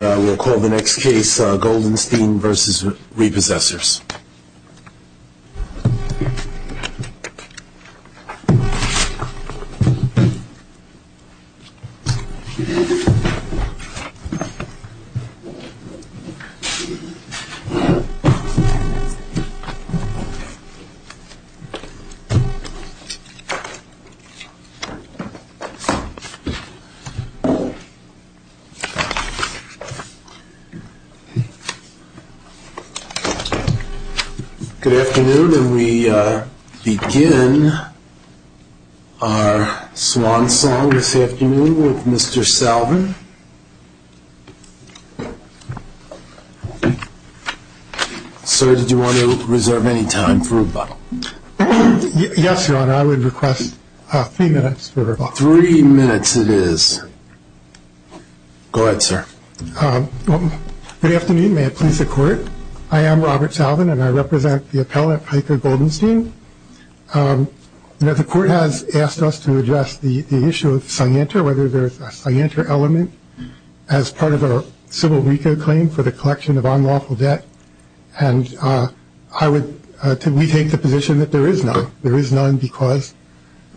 We'll call the next case Goldenstein v. Repossessors. Good afternoon, and we begin our swan song this afternoon with Mr. Salvin. Sir, did you want to reserve any time for rebuttal? Yes, Your Honor, I would request three minutes for rebuttal. Three minutes it is. Go ahead, sir. Good afternoon. May it please the Court. I am Robert Salvin, and I represent the appellate, Piper Goldenstein. The Court has asked us to address the issue of cyanter, whether there is a cyanter element, as part of a civil RICO claim for the collection of unlawful debt. And I would take the position that there is none. There is none because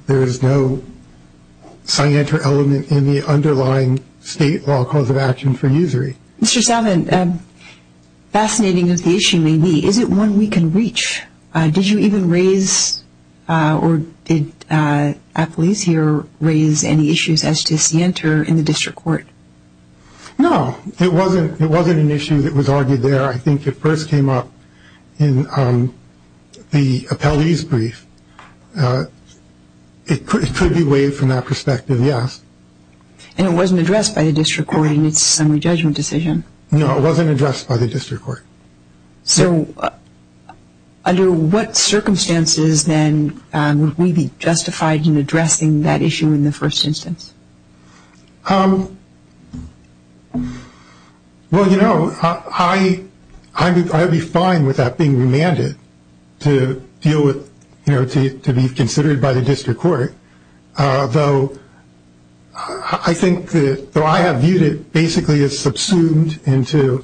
there is no cyanter element in the underlying state law cause of action for usury. Mr. Salvin, fascinating as the issue may be, is it one we can reach? Did you even raise, or did appellees here raise any issues as to cyanter in the district court? No, it wasn't an issue that was argued there. I think it first came up in the appellee's brief. It could be weighed from that perspective, yes. And it wasn't addressed by the district court in its summary judgment decision? No, it wasn't addressed by the district court. So under what circumstances then would we be justified in addressing that issue in the first instance? Well, you know, I would be fine with that being remanded to deal with, you know, to be considered by the district court. Though I think that, though I have viewed it basically as subsumed into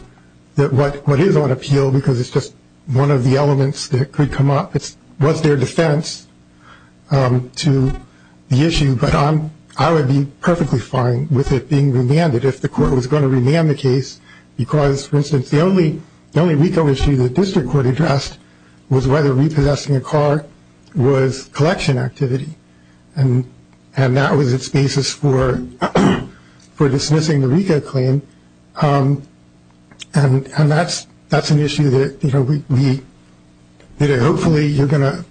what is on appeal because it's just one of the elements that could come up, it was their defense to the issue. But I would be perfectly fine with it being remanded if the court was going to remand the case because, for instance, the only RICO issue the district court addressed was whether repossessing a car was collection activity. And that was its basis for dismissing the RICO claim. And that's an issue that hopefully you're going to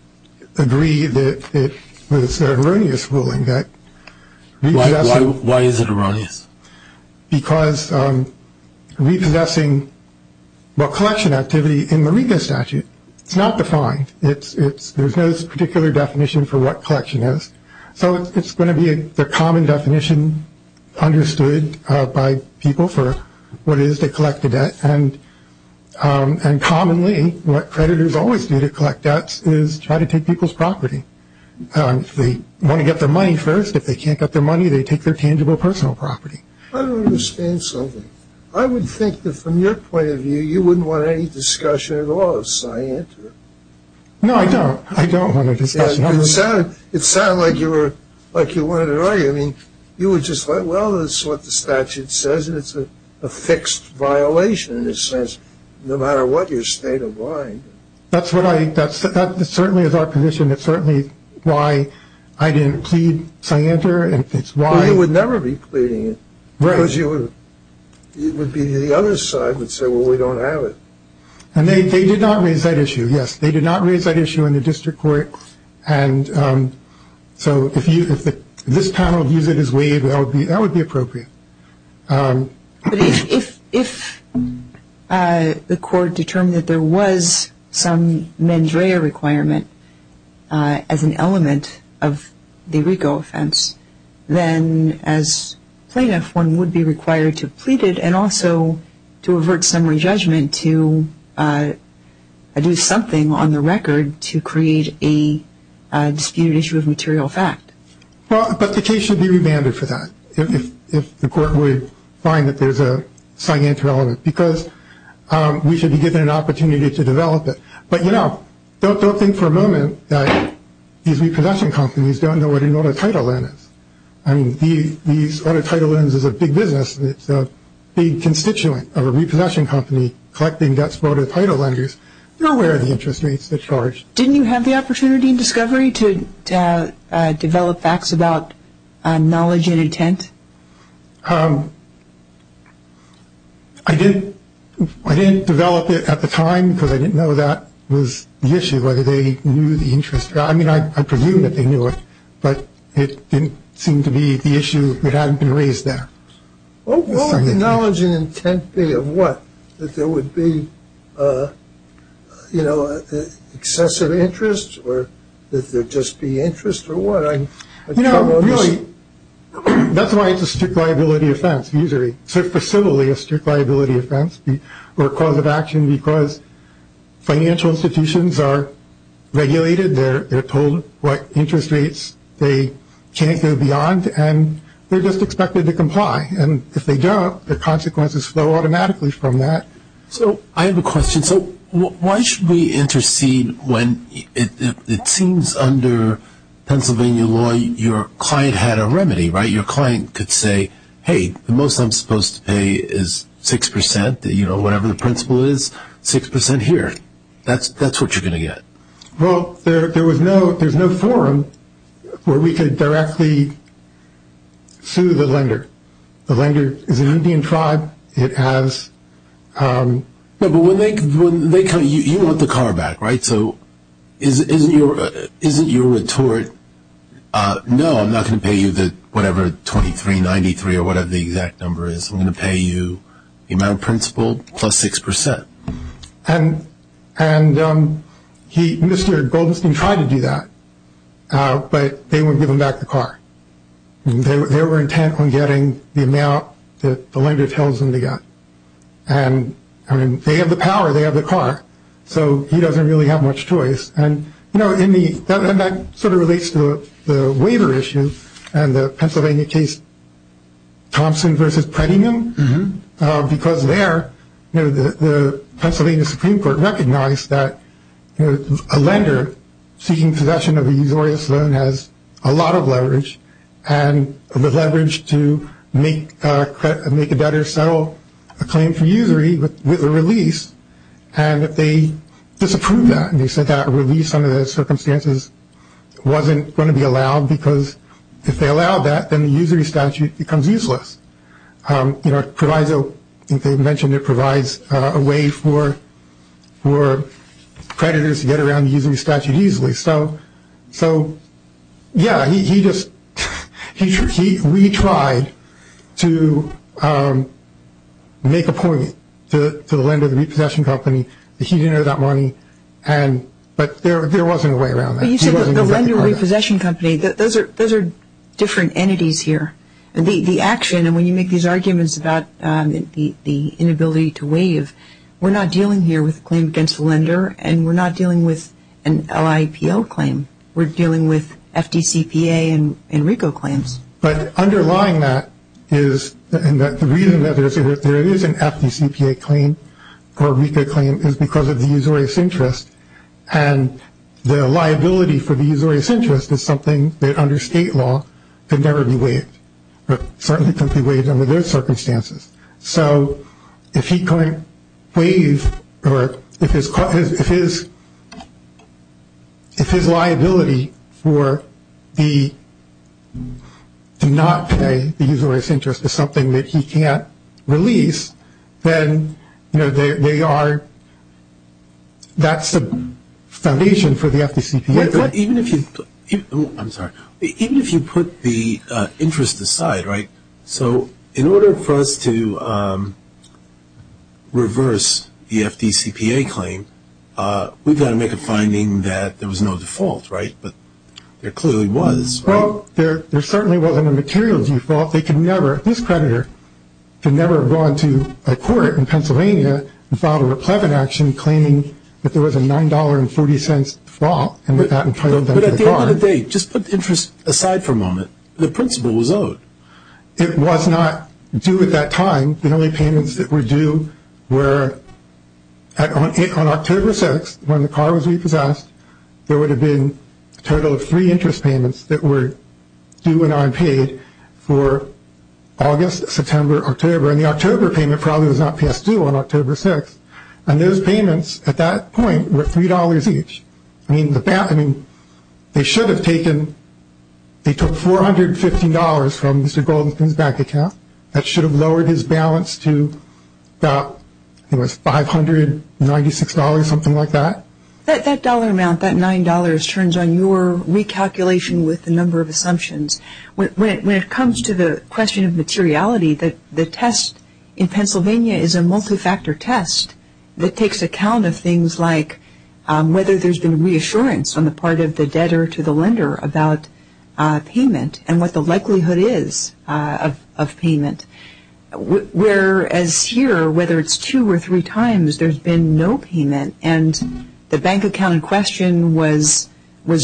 agree that it was an erroneous ruling. Why is it erroneous? Because repossessing collection activity in the RICO statute, it's not defined. There's no particular definition for what collection is. So it's going to be the common definition understood by people for what it is to collect a debt. And commonly what creditors always do to collect debts is try to take people's property. They want to get their money first. If they can't get their money, they take their tangible personal property. I don't understand something. I would think that from your point of view, you wouldn't want any discussion at all. So I answer it. No, I don't. I don't want a discussion. It sounded like you wanted to argue. I mean, you were just like, well, this is what the statute says, and it's a fixed violation. And it says no matter what your state of mind. That's what I think. That certainly is our position. It's certainly why I didn't plead scienter. It's why. Well, you would never be pleading it. Right. Because it would be the other side would say, well, we don't have it. And they did not raise that issue, yes. They did not raise that issue in the district court. And so if this panel views it as waived, that would be appropriate. But if the court determined that there was some mens rea requirement as an element of the RICO offense, then as plaintiff, one would be required to plead it and also to avert summary judgment to do something on the record to create a disputed issue of material fact. Well, but the case should be remanded for that if the court would find that there's a scientific element, because we should be given an opportunity to develop it. But, you know, don't think for a moment that these repossession companies don't know what an auto title is. I mean, these auto title loans is a big business. It's a big constituent of a repossession company collecting debts for auto title lenders. They're aware of the interest rates they charge. Didn't you have the opportunity in discovery to develop facts about knowledge and intent? I didn't. I didn't develop it at the time because I didn't know that was the issue, whether they knew the interest. I mean, I presume that they knew it, but it didn't seem to be the issue that hadn't been raised there. What would the knowledge and intent be of what? That there would be, you know, excessive interest or that there'd just be interest or what? You know, really, that's why it's a strict liability offense usually, so for civilly a strict liability offense or cause of action because financial institutions are regulated. They're told what interest rates they can't go beyond, and they're just expected to comply. And if they don't, the consequences flow automatically from that. So I have a question. So why should we intercede when it seems under Pennsylvania law your client had a remedy, right? Your client could say, hey, the most I'm supposed to pay is 6%, you know, whatever the principle is, 6% here. That's what you're going to get. Well, there's no forum where we could directly sue the lender. The lender is an Indian tribe. No, but when they come, you want the car back, right? So isn't your retort, no, I'm not going to pay you whatever 2393 or whatever the exact number is. I'm going to pay you the amount of principle plus 6%. And Mr. Goldenstein tried to do that, but they wouldn't give him back the car. They were intent on getting the amount that the lender tells them to get. And, I mean, they have the power. They have the car. So he doesn't really have much choice. And, you know, that sort of relates to the waiver issue and the Pennsylvania case Thompson v. Prettyman. Because there, you know, the Pennsylvania Supreme Court recognized that, you know, a lender seeking possession of a usurious loan has a lot of leverage, and the leverage to make a debtor settle a claim for usury with a release, and they disapproved that. They said that a release under those circumstances wasn't going to be allowed because if they allowed that, then the usury statute becomes useless. You know, it provides a way for creditors to get around the usury statute easily. So, yeah, he just retried to make a point to the lender, the repossession company, that he didn't owe that money. But there wasn't a way around that. Well, you said the lender repossession company. Those are different entities here. The action, and when you make these arguments about the inability to waive, we're not dealing here with a claim against a lender, and we're not dealing with an LIPO claim. We're dealing with FDCPA and RICO claims. But underlying that is that the reason that there is an FDCPA claim or RICO claim is because of the usury's interest. And the liability for the usury's interest is something that under state law can never be waived, but certainly can't be waived under those circumstances. So if he can't waive or if his liability for the not paying the usury's interest is something that he can't release, then that's the foundation for the FDCPA. Even if you put the interest aside, right? So in order for us to reverse the FDCPA claim, we've got to make a finding that there was no default, right? But there clearly was, right? Well, there certainly wasn't a material default. They could never, this creditor could never have gone to a court in Pennsylvania and filed a replevant action claiming that there was a $9.40 default and entitled them to the car. But at the end of the day, just put the interest aside for a moment. The principal was owed. It was not due at that time. The only payments that were due were on October 6th when the car was repossessed. There would have been a total of three interest payments that were due and unpaid for August, September, October. And the October payment probably was not passed due on October 6th. And those payments at that point were $3 each. I mean, they should have taken, they took $450 from Mr. Goldenstein's bank account. That should have lowered his balance to about, I think it was $596, something like that. That dollar amount, that $9, turns on your recalculation with the number of assumptions. When it comes to the question of materiality, the test in Pennsylvania is a multifactor test that takes account of things like whether there's been reassurance on the part of the debtor to the lender about payment and what the likelihood is of payment. Whereas here, whether it's two or three times, there's been no payment. And the bank account in question was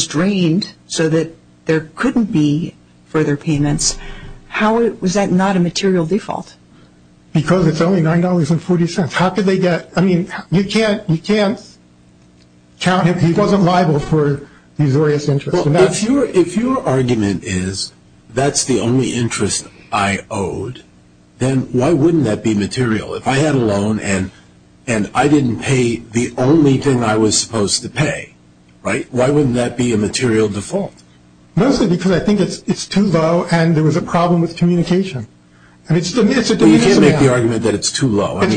drained so that there couldn't be further payments. How was that not a material default? Because it's only $9.40. How could they get, I mean, you can't count if he wasn't liable for these various interests. Well, if your argument is that's the only interest I owed, then why wouldn't that be material? If I had a loan and I didn't pay the only thing I was supposed to pay, why wouldn't that be a material default? Mostly because I think it's too low and there was a problem with communication. You can't make the argument that it's too low. Well, it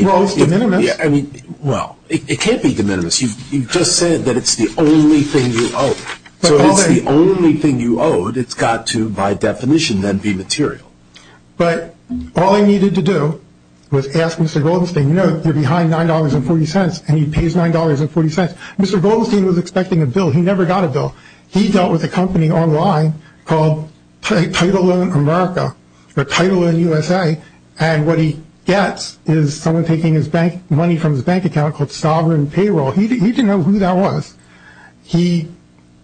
can't be de minimis. You just said that it's the only thing you owed. So if it's the only thing you owed, it's got to, by definition, then be material. But all I needed to do was ask Mr. Goldstein, you know, you're behind $9.40 and he pays $9.40. Mr. Goldstein was expecting a bill. He never got a bill. He dealt with a company online called Title Loan America or Title Loan USA, and what he gets is someone taking money from his bank account called Sovereign Payroll. He didn't know who that was. He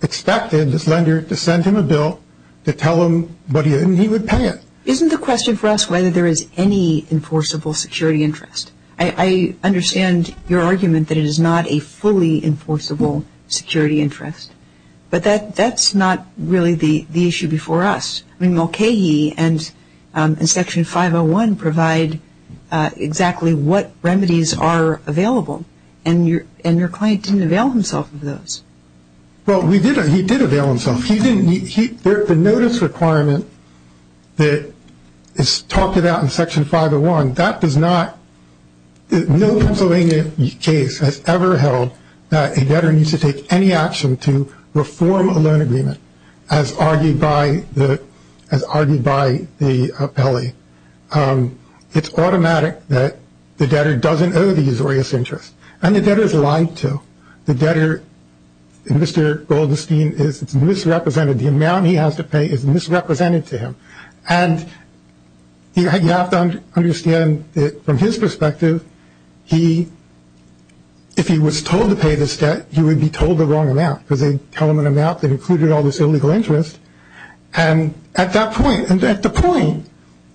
expected his lender to send him a bill to tell him what he owed and he would pay it. Isn't the question for us whether there is any enforceable security interest? I understand your argument that it is not a fully enforceable security interest, but that's not really the issue before us. I mean, Mulcahy and Section 501 provide exactly what remedies are available, and your client didn't avail himself of those. Well, he did avail himself. The notice requirement that is talked about in Section 501, that does not – no Pennsylvania case has ever held that a debtor needs to take any action to reform a loan agreement, as argued by the appellee. It's automatic that the debtor doesn't owe the usurious interest, and the debtor's lied to. The debtor, Mr. Goldstein, is misrepresented. The amount he has to pay is misrepresented to him, and you have to understand that from his perspective, he – if he was told to pay this debt, he would be told the wrong amount because they tell him an amount that included all this illegal interest. And at that point – and at the point,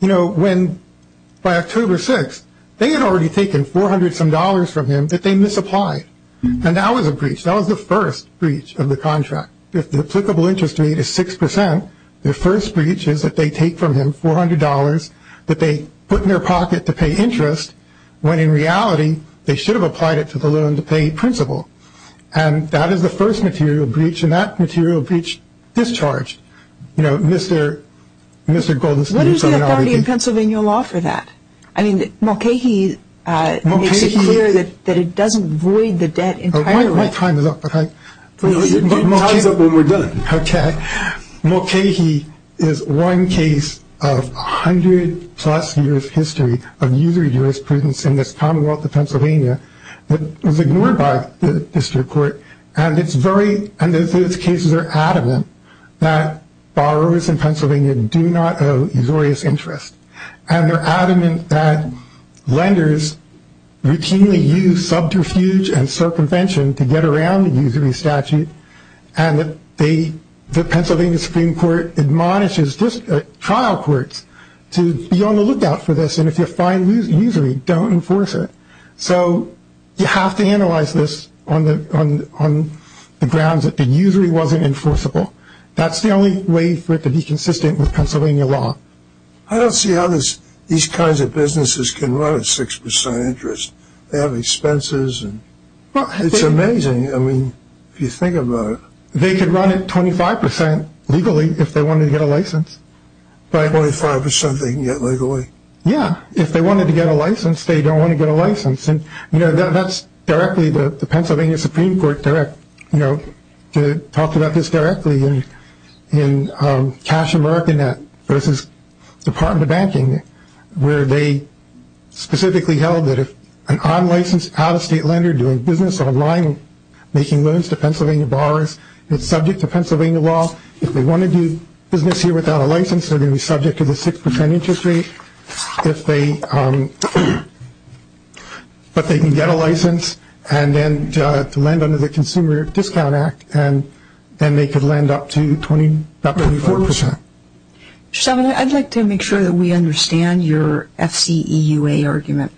you know, when – by October 6th, they had already taken 400-some dollars from him that they misapplied. And that was a breach. That was the first breach of the contract. If the applicable interest rate is 6%, the first breach is that they take from him $400 that they put in their pocket to pay interest, when in reality, they should have applied it to the loan-to-pay principle. And that is the first material breach, and that material breach discharged, you know, Mr. Goldstein. What is the authority in Pennsylvania law for that? I mean, Mulcahy makes it clear that it doesn't void the debt entirely. My time is up. It ties up when we're done. Okay. Mulcahy is one case of 100-plus years' history of usury jurisprudence in this commonwealth of Pennsylvania that was ignored by the district court, and it's very – and those cases are adamant that borrowers in Pennsylvania do not owe usurious interest. And they're adamant that lenders routinely use subterfuge and circumvention to get around the usury statute, and the Pennsylvania Supreme Court admonishes trial courts to be on the lookout for this, and if you find usury, don't enforce it. So you have to analyze this on the grounds that the usury wasn't enforceable. That's the only way for it to be consistent with Pennsylvania law. I don't see how these kinds of businesses can run at 6% interest. They have expenses, and it's amazing. I mean, if you think about it. They could run at 25% legally if they wanted to get a license. 25% they can get legally? Yeah. If they wanted to get a license, they don't want to get a license. And, you know, that's directly the Pennsylvania Supreme Court direct – you know, talked about this directly in Cash America Net versus Department of Banking where they specifically held that if an unlicensed out-of-state lender doing business online, making loans to Pennsylvania borrowers, it's subject to Pennsylvania law. If they want to do business here without a license, they're going to be subject to the 6% interest rate. If they – but they can get a license and then to lend under the Consumer Discount Act, and then they could lend up to about 24%. Mr. Salvin, I'd like to make sure that we understand your FCEUA argument.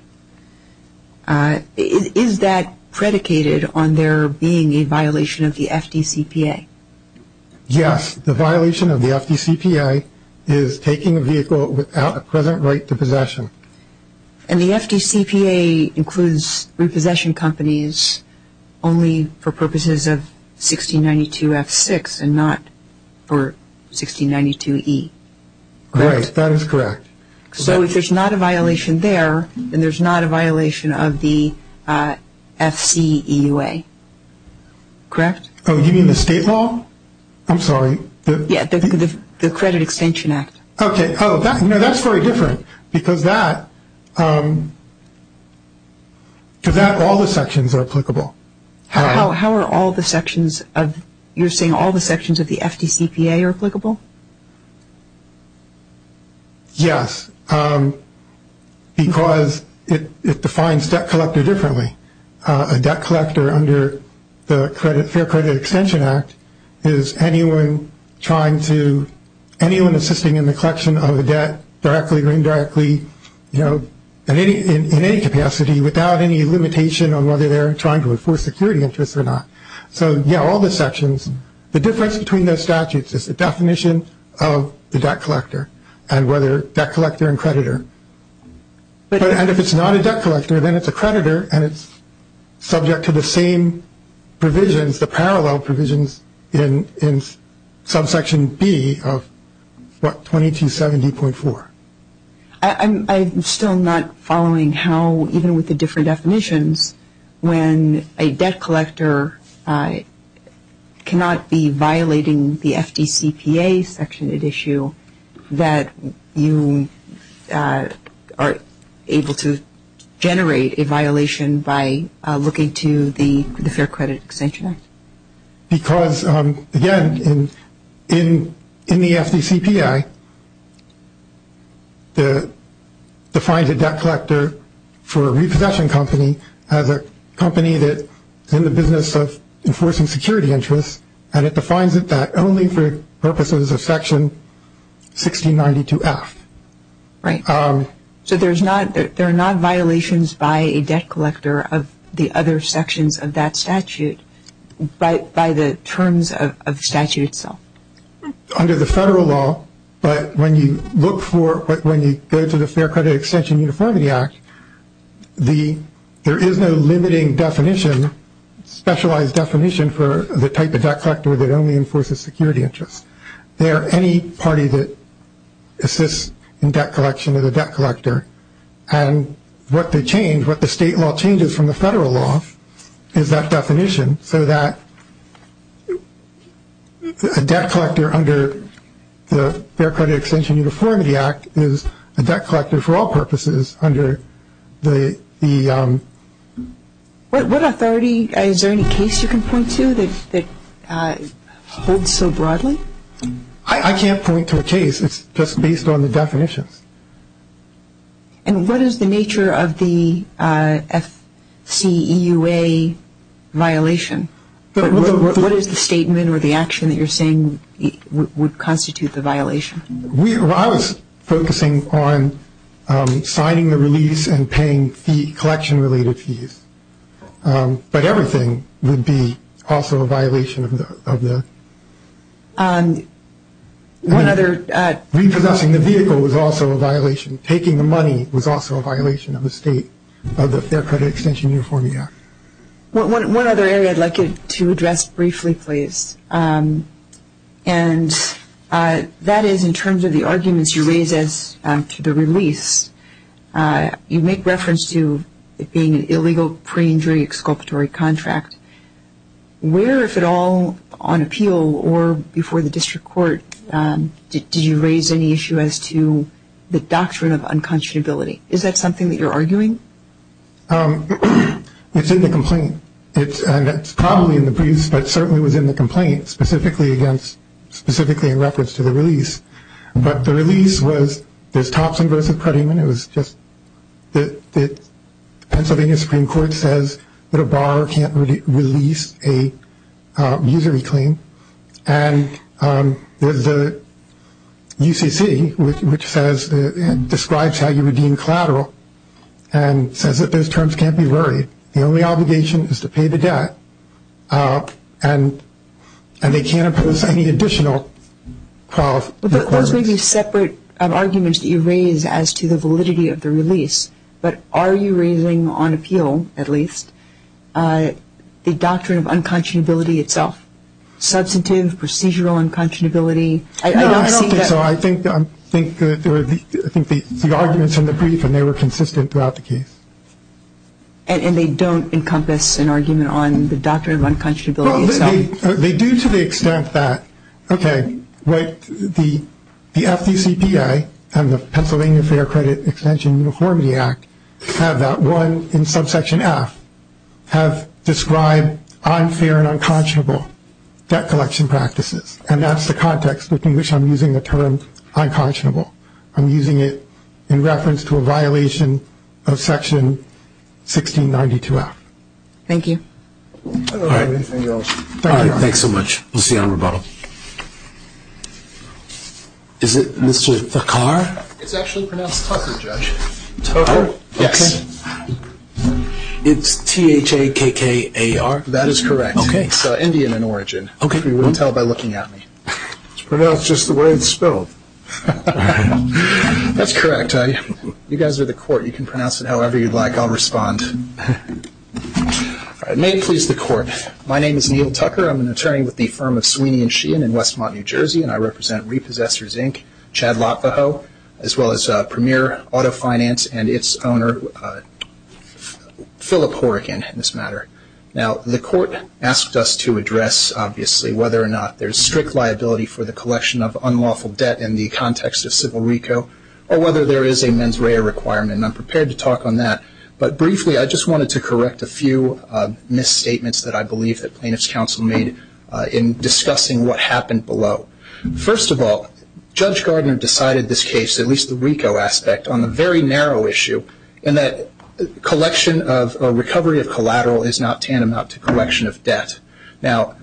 Is that predicated on there being a violation of the FDCPA? Yes. The violation of the FDCPA is taking a vehicle without a present right to possession. And the FDCPA includes repossession companies only for purposes of 1692F6 and not for 1692E, correct? Right. That is correct. So if there's not a violation there, then there's not a violation of the FCEUA, correct? Oh, you mean the state law? I'm sorry. Yeah, the Credit Extension Act. Okay. Oh, that's very different because that – because that – all the sections are applicable. How are all the sections of – you're saying all the sections of the FDCPA are applicable? Yes, because it defines debt collector differently. A debt collector under the Fair Credit Extension Act is anyone trying to – anyone assisting in the collection of a debt directly or indirectly, you know, in any capacity without any limitation on whether they're trying to enforce security interests or not. So, yeah, all the sections. The difference between those statutes is the definition of the debt collector and whether debt collector and creditor. And if it's not a debt collector, then it's a creditor and it's subject to the same provisions, the parallel provisions in subsection B of, what, 2270.4. I'm still not following how, even with the different definitions, when a debt collector cannot be violating the FDCPA section at issue, that you are able to generate a violation by looking to the Fair Credit Extension Act. Because, again, in the FDCPA, it defines a debt collector for a repossession company as a company that is in the business of enforcing security interests, and it defines it that only for purposes of section 1692F. Right. So there are not violations by a debt collector of the other sections of that statute, by the terms of the statute itself. Under the federal law, but when you look for, when you go to the Fair Credit Extension Uniformity Act, there is no limiting definition, specialized definition for the type of debt collector that only enforces security interests. They are any party that assists in debt collection of the debt collector. And what the change, what the state law changes from the federal law is that definition, so that a debt collector under the Fair Credit Extension Uniformity Act is a debt collector for all purposes under the... What authority, is there any case you can point to that holds so broadly? I can't point to a case. It's just based on the definitions. And what is the nature of the FCEUA violation? What is the statement or the action that you're saying would constitute the violation? I was focusing on signing the release and paying fee, collection-related fees. But everything would be also a violation of the... One other... Repossessing the vehicle was also a violation. Taking the money was also a violation of the state, of the Fair Credit Extension Uniformity Act. One other area I'd like you to address briefly, please. And that is in terms of the arguments you raise as to the release. You make reference to it being an illegal pre-injury exculpatory contract. Where, if at all, on appeal or before the district court, did you raise any issue as to the doctrine of unconscionability? Is that something that you're arguing? It's in the complaint. And it's probably in the briefs, but it certainly was in the complaint, specifically in reference to the release. But the release was, there's Thompson v. Prettyman. It was just the Pennsylvania Supreme Court says that a borrower can't release a usury claim. And there's the UCC, which says, describes how you redeem collateral, and says that those terms can't be worried. The only obligation is to pay the debt. And they can't impose any additional requirements. But those may be separate arguments that you raise as to the validity of the release. But are you raising on appeal, at least, the doctrine of unconscionability itself? Substantive, procedural unconscionability? No, I don't think so. I think the arguments in the brief, and they were consistent throughout the case. And they don't encompass an argument on the doctrine of unconscionability itself? They do to the extent that, okay, the FDCPA and the Pennsylvania Fair Credit Extension Uniformity Act have that one in subsection F, have described unfair and unconscionable debt collection practices. And that's the context in which I'm using the term unconscionable. I'm using it in reference to a violation of Section 1692-F. Thank you. I don't have anything else. All right, thanks so much. We'll see you on rebuttal. Is it Mr. Thakkar? It's actually pronounced Tucker, Judge. Tucker? Yes. It's T-H-A-K-K-A-R? That is correct. Okay. It's Indian in origin. Okay. You can tell by looking at me. It's pronounced just the way it's spelled. That's correct. You guys are the court. You can pronounce it however you'd like. I'll respond. May it please the court. My name is Neil Tucker. I'm an attorney with the firm of Sweeney & Sheehan in Westmont, New Jersey, and I represent Repossessors, Inc., Chad Lotvaho, as well as Premier Auto Finance and its owner, Phillip Horrigan, in this matter. Now, the court asked us to address, obviously, whether or not there's strict liability for the collection of unlawful debt in the context of civil RICO, or whether there is a mens rea requirement, and I'm prepared to talk on that. But briefly, I just wanted to correct a few misstatements that I believe that Plaintiff's Counsel made in discussing what happened below. First of all, Judge Gardner decided this case, at least the RICO aspect, on a very narrow issue, in that collection of recovery of collateral is not tantamount to correction of debt. Now,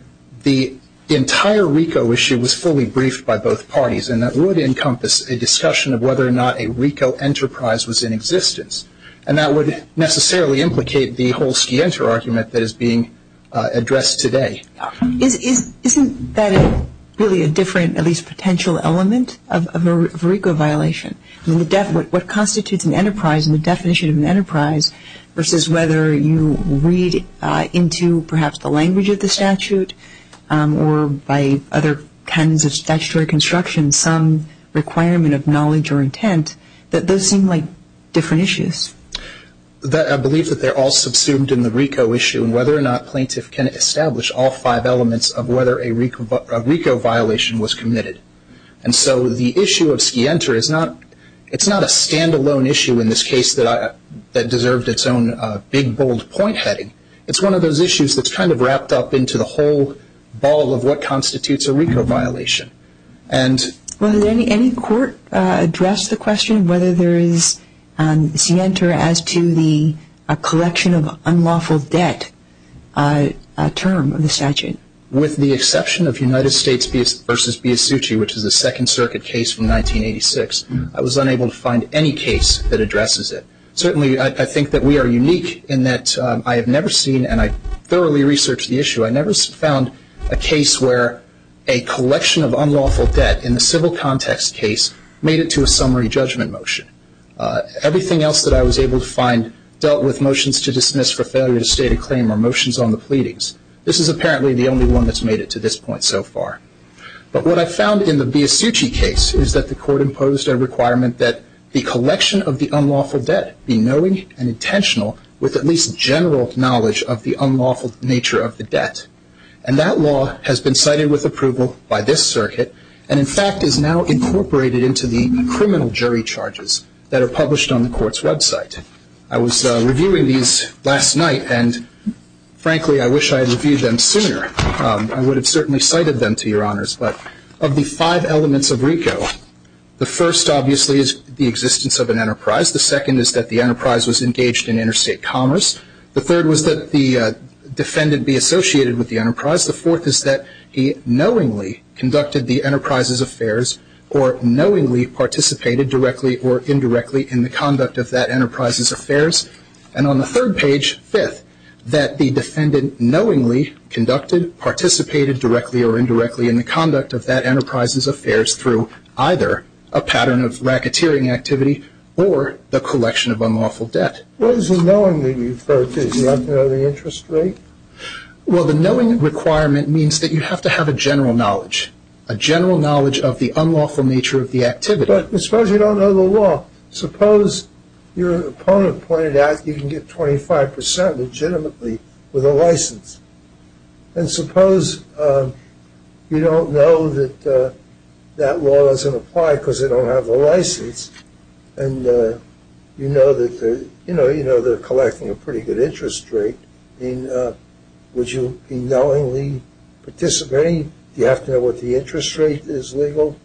the entire RICO issue was fully briefed by both parties, and that would encompass a discussion of whether or not a RICO enterprise was in existence, and that would necessarily implicate the whole Skienter argument that is being addressed today. Isn't that really a different, at least, potential element of a RICO violation? I mean, what constitutes an enterprise and the definition of an enterprise versus whether you read into, perhaps, the language of the statute or by other kinds of statutory construction some requirement of knowledge or intent, that those seem like different issues. I believe that they're all subsumed in the RICO issue, and whether or not Plaintiff can establish all five elements of whether a RICO violation was committed. And so the issue of Skienter, it's not a stand-alone issue in this case that deserved its own big, bold point heading. It's one of those issues that's kind of wrapped up into the whole ball of what constitutes a RICO violation. Well, did any court address the question of whether there is Skienter as to the collection of unlawful debt term of the statute? With the exception of United States v. Biasucci, which is a Second Circuit case from 1986, I was unable to find any case that addresses it. Certainly, I think that we are unique in that I have never seen, and I thoroughly researched the issue, I never found a case where a collection of unlawful debt in the civil context case made it to a summary judgment motion. Everything else that I was able to find dealt with motions to dismiss for failure to state a claim or motions on the pleadings. This is apparently the only one that's made it to this point so far. But what I found in the Biasucci case is that the court imposed a requirement that the collection of the unlawful debt be knowing and intentional with at least general knowledge of the unlawful nature of the debt. And that law has been cited with approval by this circuit and, in fact, is now incorporated into the criminal jury charges that are published on the court's website. I was reviewing these last night and, frankly, I wish I had reviewed them sooner. I would have certainly cited them to your honors. But of the five elements of RICO, the first, obviously, is the existence of an enterprise. The second is that the enterprise was engaged in interstate commerce. The third was that the defendant be associated with the enterprise. And on the third page, fifth, that the defendant knowingly conducted, participated directly or indirectly in the conduct of that enterprise's affairs through either a pattern of racketeering activity or the collection of unlawful debt. What is the knowing that you refer to? Do you not know the interest rate? Well, the knowing requirement means that you have to have a general knowledge, a general knowledge of the unlawful nature of the debt. But suppose you don't know the law. Suppose your opponent pointed out you can get 25 percent legitimately with a license. And suppose you don't know that that law doesn't apply because they don't have the license and you know that they're collecting a pretty good interest rate. I mean, would you be knowingly participating? Do you have to know what the interest rate is legal?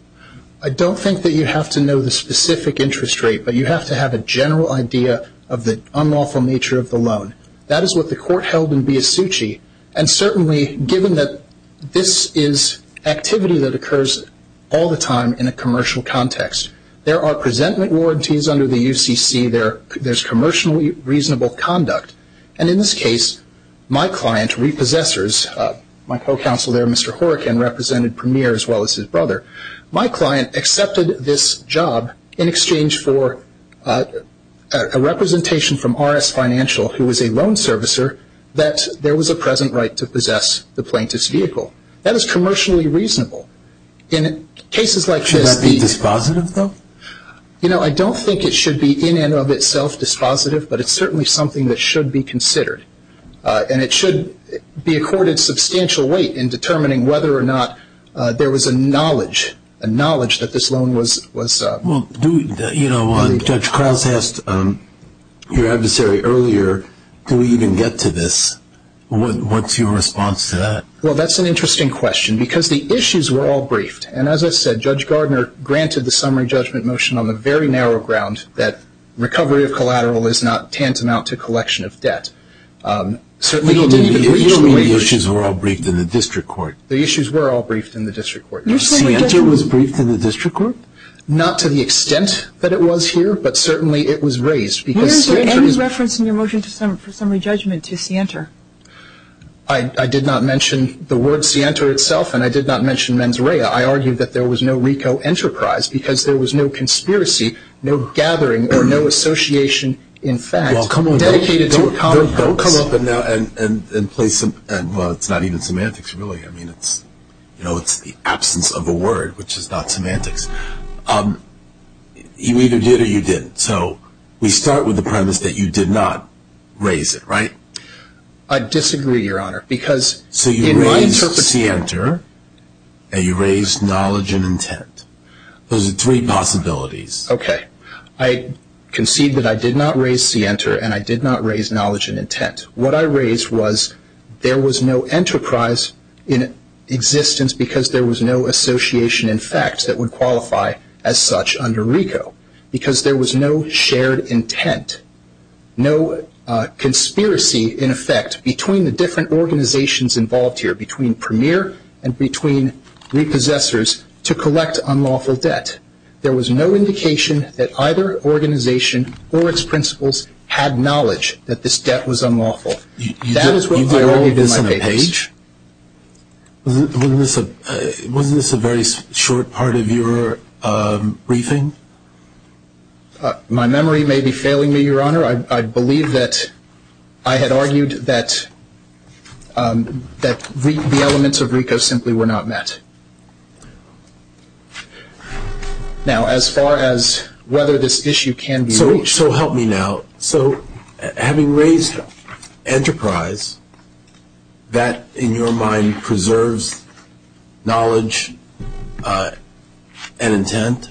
I don't think that you have to know the specific interest rate, but you have to have a general idea of the unlawful nature of the loan. That is what the court held in Biasucci. And certainly, given that this is activity that occurs all the time in a commercial context, there are presentment warranties under the UCC. There's commercially reasonable conduct. And in this case, my client, Repossessors, my co-counsel there, Mr. Horkin, represented Premier as well as his brother. My client accepted this job in exchange for a representation from RS Financial, who is a loan servicer, that there was a present right to possess the plaintiff's vehicle. That is commercially reasonable. Should that be dispositive, though? You know, I don't think it should be in and of itself dispositive, but it's certainly something that should be considered. And it should be accorded substantial weight in determining whether or not there was a knowledge, a knowledge that this loan was. Well, you know, Judge Krause asked your adversary earlier, do we even get to this? What's your response to that? Well, that's an interesting question because the issues were all briefed. And as I said, Judge Gardner granted the summary judgment motion on the very narrow ground that recovery of collateral is not tantamount to collection of debt. You don't mean the issues were all briefed in the district court? The issues were all briefed in the district court. Sienta was briefed in the district court? Not to the extent that it was here, but certainly it was raised. Where is the reference in your motion for summary judgment to Sienta? I did not mention the word Sienta itself, and I did not mention mens rea. I argued that there was no RICO enterprise because there was no conspiracy, no gathering, or no association, in fact, dedicated to a common purpose. Well, come on. Don't come up and place, well, it's not even semantics, really. I mean, it's the absence of a word, which is not semantics. You either did or you didn't. So we start with the premise that you did not raise it, right? I disagree, Your Honor. So you raised Sienta and you raised knowledge and intent. Those are three possibilities. Okay. I concede that I did not raise Sienta and I did not raise knowledge and intent. What I raised was there was no enterprise in existence because there was no association, in fact, that would qualify as such under RICO because there was no shared intent, no conspiracy, in effect, between the different organizations involved here, between Premier and between repossessors to collect unlawful debt. There was no indication that either organization or its principals had knowledge that this debt was unlawful. That is what I argued in my papers. You did all of this on a page? Wasn't this a very short part of your briefing? My memory may be failing me, Your Honor. I believe that I had argued that the elements of RICO simply were not met. Now, as far as whether this issue can be reached. So help me now. So having raised enterprise, that, in your mind, preserves knowledge and intent?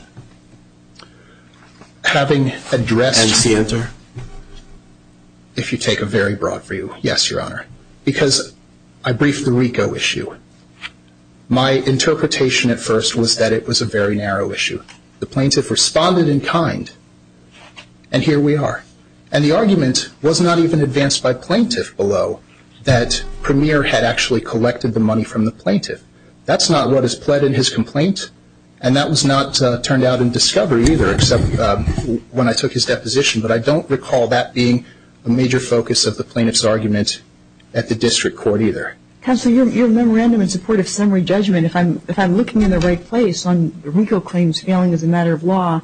Having addressed. And Sienta? If you take a very broad view, yes, Your Honor. Because I briefed the RICO issue. My interpretation at first was that it was a very narrow issue. The plaintiff responded in kind, and here we are. And the argument was not even advanced by plaintiff below that Premier had actually collected the money from the plaintiff. That's not what is pled in his complaint, and that was not turned out in discovery either, except when I took his deposition. But I don't recall that being a major focus of the plaintiff's argument at the district court either. Counsel, your memorandum in support of summary judgment, if I'm looking in the right place on the RICO claims failing as a matter of law,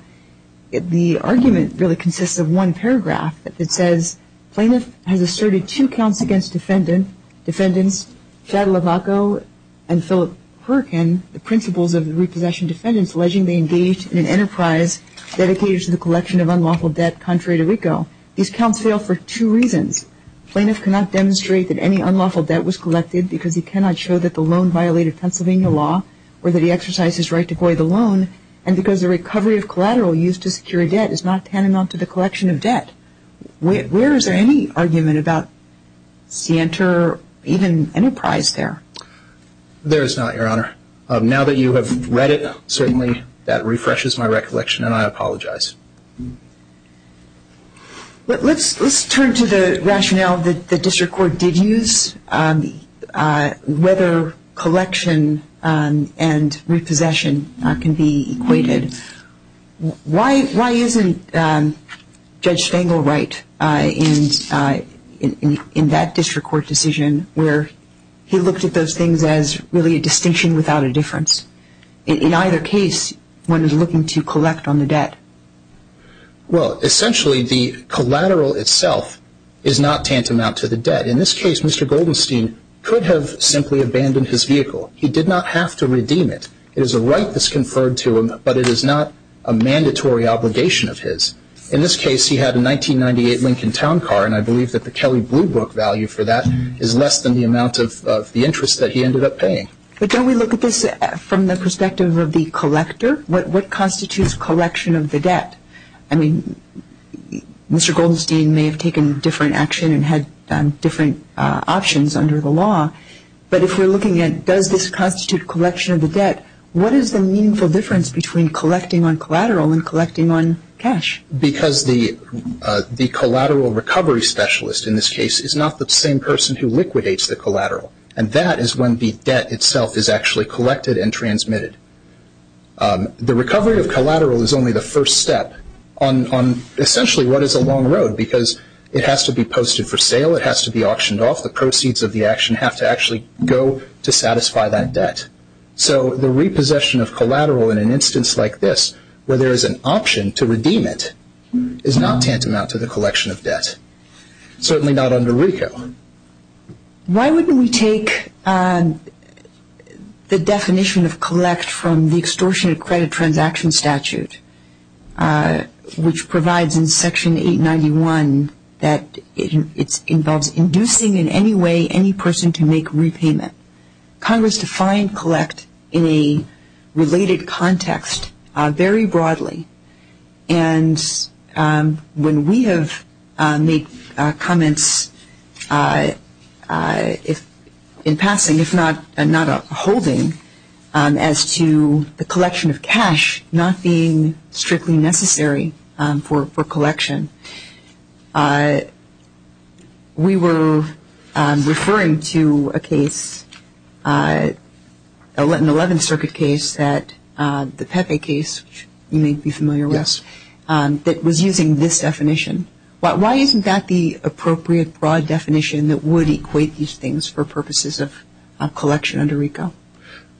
the argument really consists of one paragraph that says, Plaintiff has asserted two counts against defendants, Chad Labacco and Philip Perkin, the principles of repossession defendants alleging they engaged in an enterprise dedicated to the collection of unlawful debt contrary to RICO. These counts fail for two reasons. Plaintiff cannot demonstrate that any unlawful debt was collected because he cannot show that the loan violated Pennsylvania law or that he exercised his right to void the loan, and because the recovery of collateral used to secure a debt is not tantamount to the collection of debt. Where is there any argument about scienter, even enterprise there? There is not, Your Honor. Now that you have read it, certainly that refreshes my recollection, and I apologize. Let's turn to the rationale that the district court did use, whether collection and repossession can be equated. Why isn't Judge Stengel right in that district court decision where he looked at those things as really a distinction without a difference? In either case, one is looking to collect on the debt. Well, essentially the collateral itself is not tantamount to the debt. In this case, Mr. Goldenstein could have simply abandoned his vehicle. He did not have to redeem it. It is a right that's conferred to him, but it is not a mandatory obligation of his. In this case, he had a 1998 Lincoln Town Car, and I believe that the Kelly Blue Book value for that is less than the amount of the interest that he ended up paying. But don't we look at this from the perspective of the collector? What constitutes collection of the debt? I mean, Mr. Goldenstein may have taken different action and had different options under the law, but if we're looking at does this constitute collection of the debt, what is the meaningful difference between collecting on collateral and collecting on cash? Because the collateral recovery specialist in this case is not the same person who liquidates the collateral, and that is when the debt itself is actually collected and transmitted. The recovery of collateral is only the first step on essentially what is a long road, because it has to be posted for sale. It has to be auctioned off. The proceeds of the action have to actually go to satisfy that debt. So the repossession of collateral in an instance like this, where there is an option to redeem it, is not tantamount to the collection of debt, certainly not under RICO. Why wouldn't we take the definition of collect from the extortion of credit transaction statute, which provides in Section 891 that it involves inducing in any way any person to make repayment. Congress defined collect in a related context very broadly, and when we have made comments in passing, if not a holding, as to the collection of cash not being strictly necessary for collection, we were referring to a case, an 11th Circuit case, that the Pepe case, which you may be familiar with, that was using this definition. Why isn't that the appropriate broad definition that would equate these things for purposes of collection under RICO?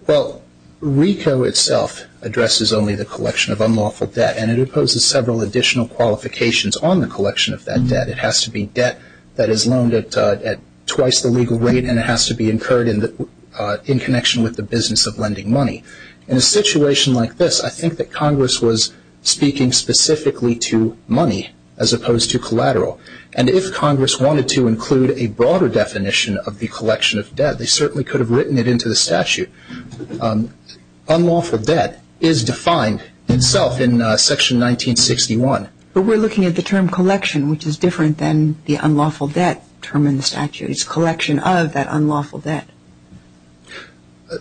Well, RICO itself addresses only the collection of unlawful debt, and it imposes several additional qualifications on the collection of that debt. It has to be debt that is loaned at twice the legal rate, and it has to be incurred in connection with the business of lending money. In a situation like this, I think that Congress was speaking specifically to money as opposed to collateral, and if Congress wanted to include a broader definition of the collection of debt, they certainly could have written it into the statute. Unlawful debt is defined itself in Section 1961. But we're looking at the term collection, which is different than the unlawful debt term in the statute. It's collection of that unlawful debt.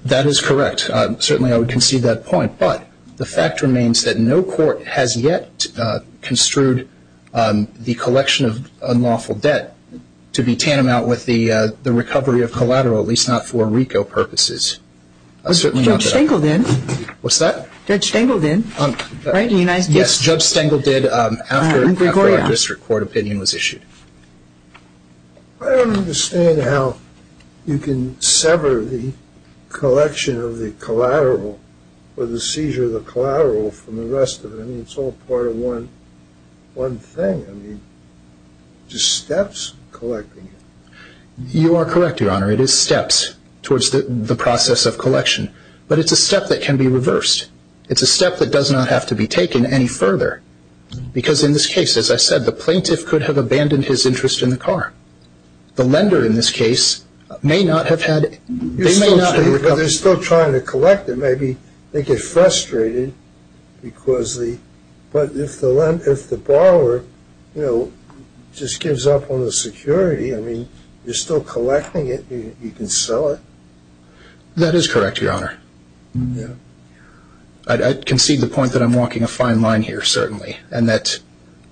That is correct. Certainly I would concede that point, but the fact remains that no court has yet construed the collection of unlawful debt to be tantamount with the recovery of collateral, at least not for RICO purposes. Judge Stengel did. What's that? Judge Stengel did. Yes, Judge Stengel did after our district court opinion was issued. I don't understand how you can sever the collection of the collateral or the seizure of the collateral from the rest of it. I mean, it's all part of one thing. I mean, it's just steps collecting it. You are correct, Your Honor. It is steps towards the process of collection, but it's a step that can be reversed. It's a step that does not have to be taken any further because in this case, as I said, the plaintiff could have abandoned his interest in the car. The lender, in this case, may not have had it. They may not have recovered it. But they're still trying to collect it. Maybe they get frustrated, but if the borrower just gives up on the security, I mean, you're still collecting it. You can sell it. That is correct, Your Honor. I concede the point that I'm walking a fine line here, certainly, and that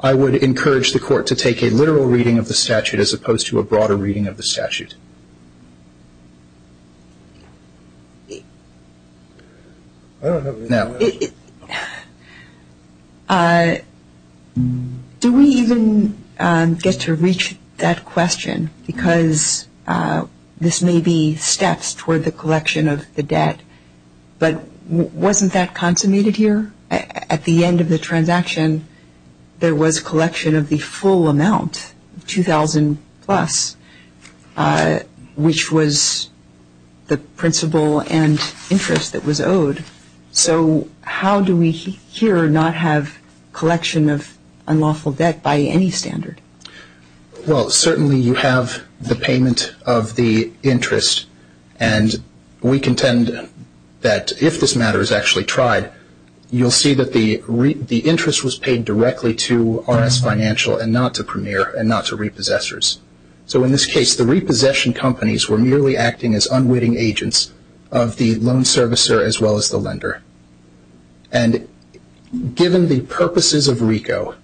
I would encourage the Court to take a literal reading of the statute as opposed to a broader reading of the statute. Do we even get to reach that question? Because this may be steps toward the collection of the debt. But wasn't that consummated here? At the end of the transaction, there was collection of the full amount, 2,000-plus, which was the principal and interest that was owed. So how do we here not have collection of unlawful debt by any standard? Well, certainly you have the payment of the interest, and we contend that if this matter is actually tried, you'll see that the interest was paid directly to RS Financial and not to Premier and not to repossessors. So in this case, the repossession companies were merely acting as unwitting agents of the loan servicer as well as the lender. And given the purposes of RICO,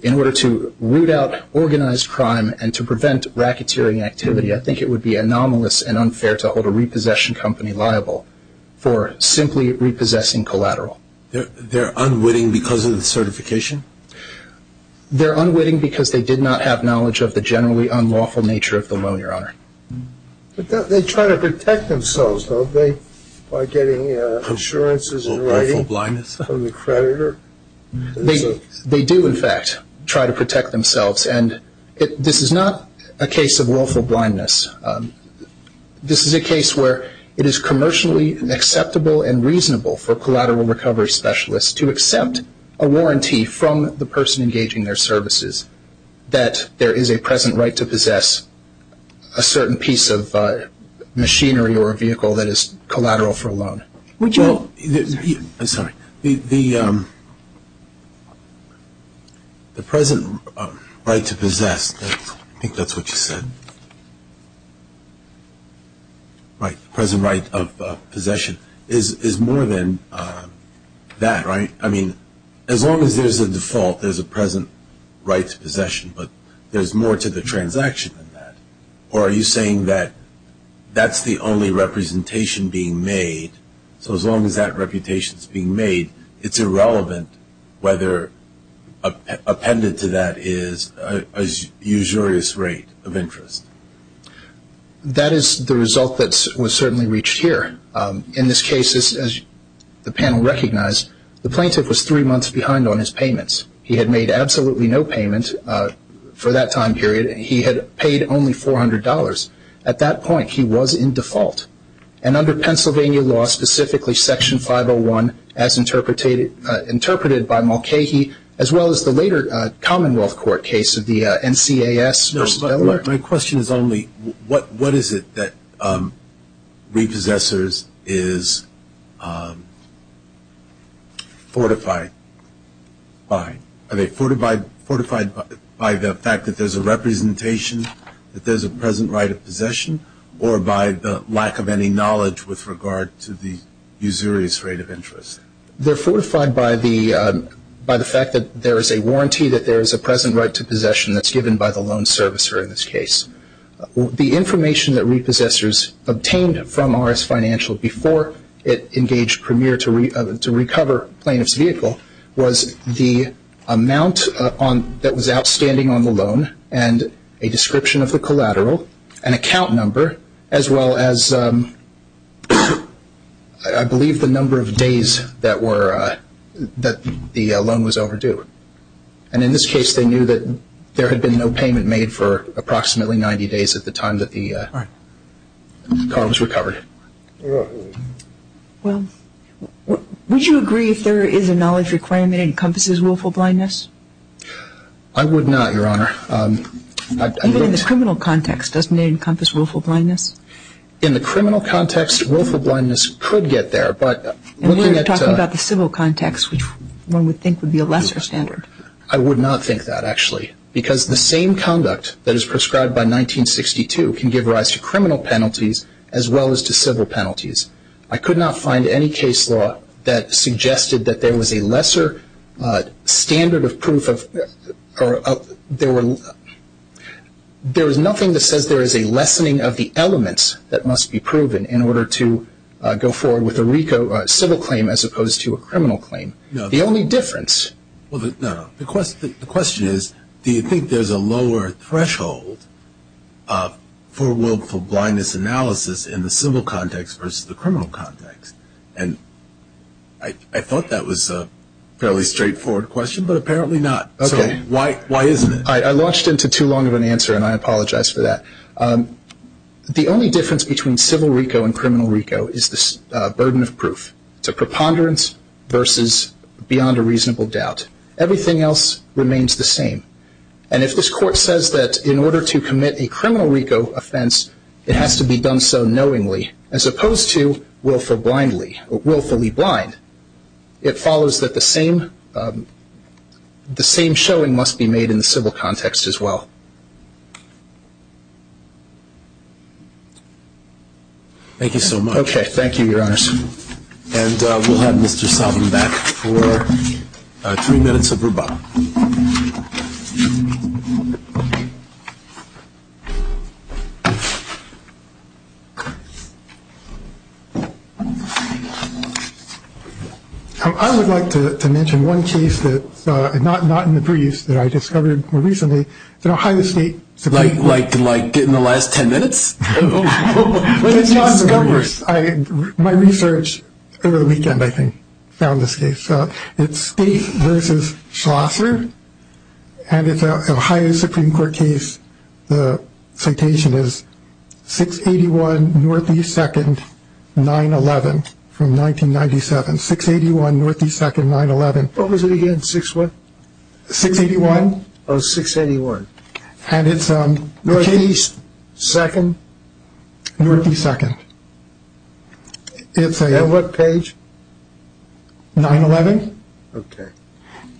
in order to root out organized crime and to prevent racketeering activity, I think it would be anomalous and unfair to hold a repossession company liable for simply repossessing collateral. They're unwitting because of the certification? They're unwitting because they did not have knowledge of the generally unlawful nature of the loan, Your Honor. But they try to protect themselves, don't they, by getting insurances and rating from the creditor? They do, in fact, try to protect themselves. And this is not a case of willful blindness. This is a case where it is commercially acceptable and reasonable for collateral recovery specialists to accept a warranty from the person engaging their services that there is a present right to possess a certain piece of machinery or a vehicle that is collateral for a loan. I'm sorry. The present right to possess, I think that's what you said, right, the present right of possession is more than that, right? I mean, as long as there's a default, there's a present right to possession, but there's more to the transaction than that. Or are you saying that that's the only representation being made, so as long as that reputation is being made, it's irrelevant whether appended to that is a usurious rate of interest? That is the result that was certainly reached here. In this case, as the panel recognized, the plaintiff was three months behind on his payments. He had made absolutely no payment for that time period. He had paid only $400. At that point, he was in default. And under Pennsylvania law, specifically Section 501, as interpreted by Mulcahy, as well as the later Commonwealth Court case of the NCAS v. Beller. My question is only what is it that repossessors is fortified by? Are they fortified by the fact that there's a representation, that there's a present right of possession, or by the lack of any knowledge with regard to the usurious rate of interest? They're fortified by the fact that there is a warranty that there is a present right to possession that's given by the loan servicer in this case. The information that repossessors obtained from RS Financial before it engaged Premier to recover plaintiff's vehicle was the amount that was outstanding on the loan and a description of the collateral, an account number, as well as I believe the number of days that the loan was overdue. And in this case, they knew that there had been no payment made for approximately 90 days at the time that the car was recovered. Well, would you agree if there is a knowledge requirement that encompasses willful blindness? I would not, Your Honor. Even in the criminal context, doesn't it encompass willful blindness? In the criminal context, willful blindness could get there. And we're talking about the civil context, which one would think would be a lesser standard. I would not think that, actually. Because the same conduct that is prescribed by 1962 can give rise to criminal penalties as well as to civil penalties. I could not find any case law that suggested that there was a lesser standard of proof. There is nothing that says there is a lessening of the elements that must be proven in order to go forward with a RICO civil claim as opposed to a criminal claim. The only difference. The question is, do you think there is a lower threshold for willful blindness analysis in the civil context versus the criminal context? And I thought that was a fairly straightforward question, but apparently not. Okay. So why isn't it? I launched into too long of an answer, and I apologize for that. The only difference between civil RICO and criminal RICO is this burden of proof. It's a preponderance versus beyond a reasonable doubt. Everything else remains the same. And if this Court says that in order to commit a criminal RICO offense, it has to be done so knowingly as opposed to willfully blind, it follows that the same showing must be made in the civil context as well. Thank you so much. Okay. Thank you, Your Honors. And we'll have Mr. Salvin back for three minutes of rebuttal. I would like to mention one case that's not in the briefs that I discovered more recently that Ohio State supported. Like getting the last ten minutes? My research over the weekend, I think, found this case. It's State versus Schlosser, and it's an Ohio Supreme Court case. The citation is 681 Northeast 2nd, 9-11 from 1997. 681 Northeast 2nd, 9-11. What was it again? 6-what? 681. Oh, 681. Northeast 2nd. Northeast 2nd. And what page? 9-11. Okay.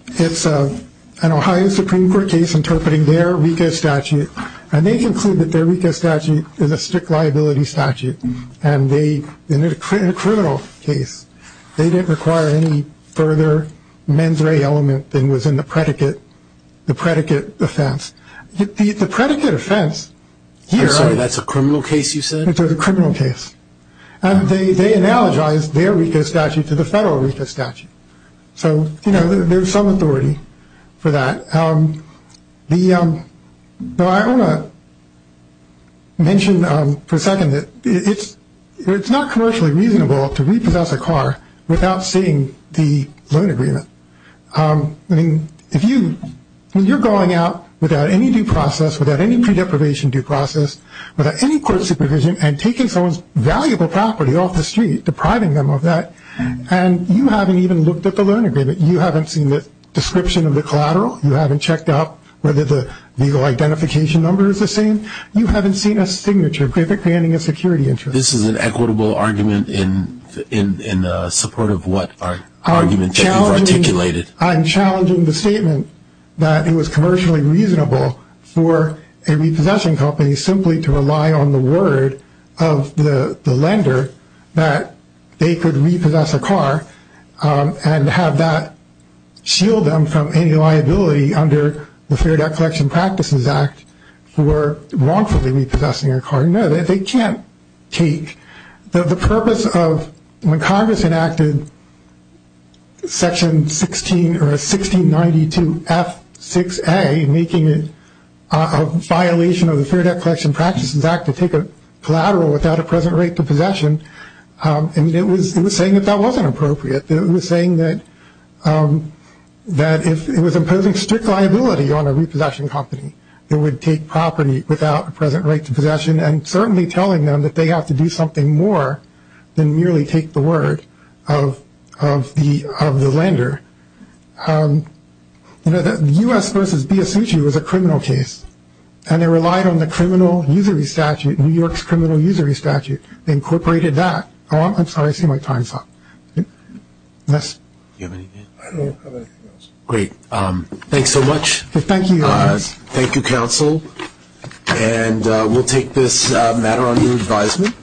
It's an Ohio Supreme Court case interpreting their RICO statute, and they conclude that their RICO statute is a strict liability statute. And in a criminal case, they didn't require any further mens rea element than was in the predicate offense. The predicate offense here is- I'm sorry, that's a criminal case you said? It's a criminal case. And they analogized their RICO statute to the federal RICO statute. So, you know, there's some authority for that. I want to mention for a second that it's not commercially reasonable to repossess a car without seeing the loan agreement. I mean, if you're going out without any due process, without any pre-deprivation due process, without any court supervision, and taking someone's valuable property off the street, depriving them of that, and you haven't even looked at the loan agreement, you haven't seen the description of the collateral, you haven't checked up whether the legal identification number is the same, you haven't seen a signature. Perfectly handing a security interest. This is an equitable argument in support of what argument you've articulated. I'm challenging the statement that it was commercially reasonable for a repossessing company simply to rely on the word of the lender that they could repossess a car and have that shield them from any liability under the Fair Debt Collection Practices Act for wrongfully repossessing a car. No, they can't take. The purpose of when Congress enacted Section 16 or 1692 F6A, making it a violation of the Fair Debt Collection Practices Act to take a collateral without a present rate to possession, it was saying that that wasn't appropriate. It was saying that it was imposing strict liability on a repossessing company that would take property without a present rate to possession and certainly telling them that they have to do something more than merely take the word of the lender. The U.S. v. Biassucci was a criminal case, and it relied on the criminal usury statute, New York's criminal usury statute. They incorporated that. Oh, I'm sorry. I see my time's up. Yes? Do you have anything? I don't have anything else. Great. Thanks so much. Thank you. Thank you, counsel. And we'll take this matter under advisement.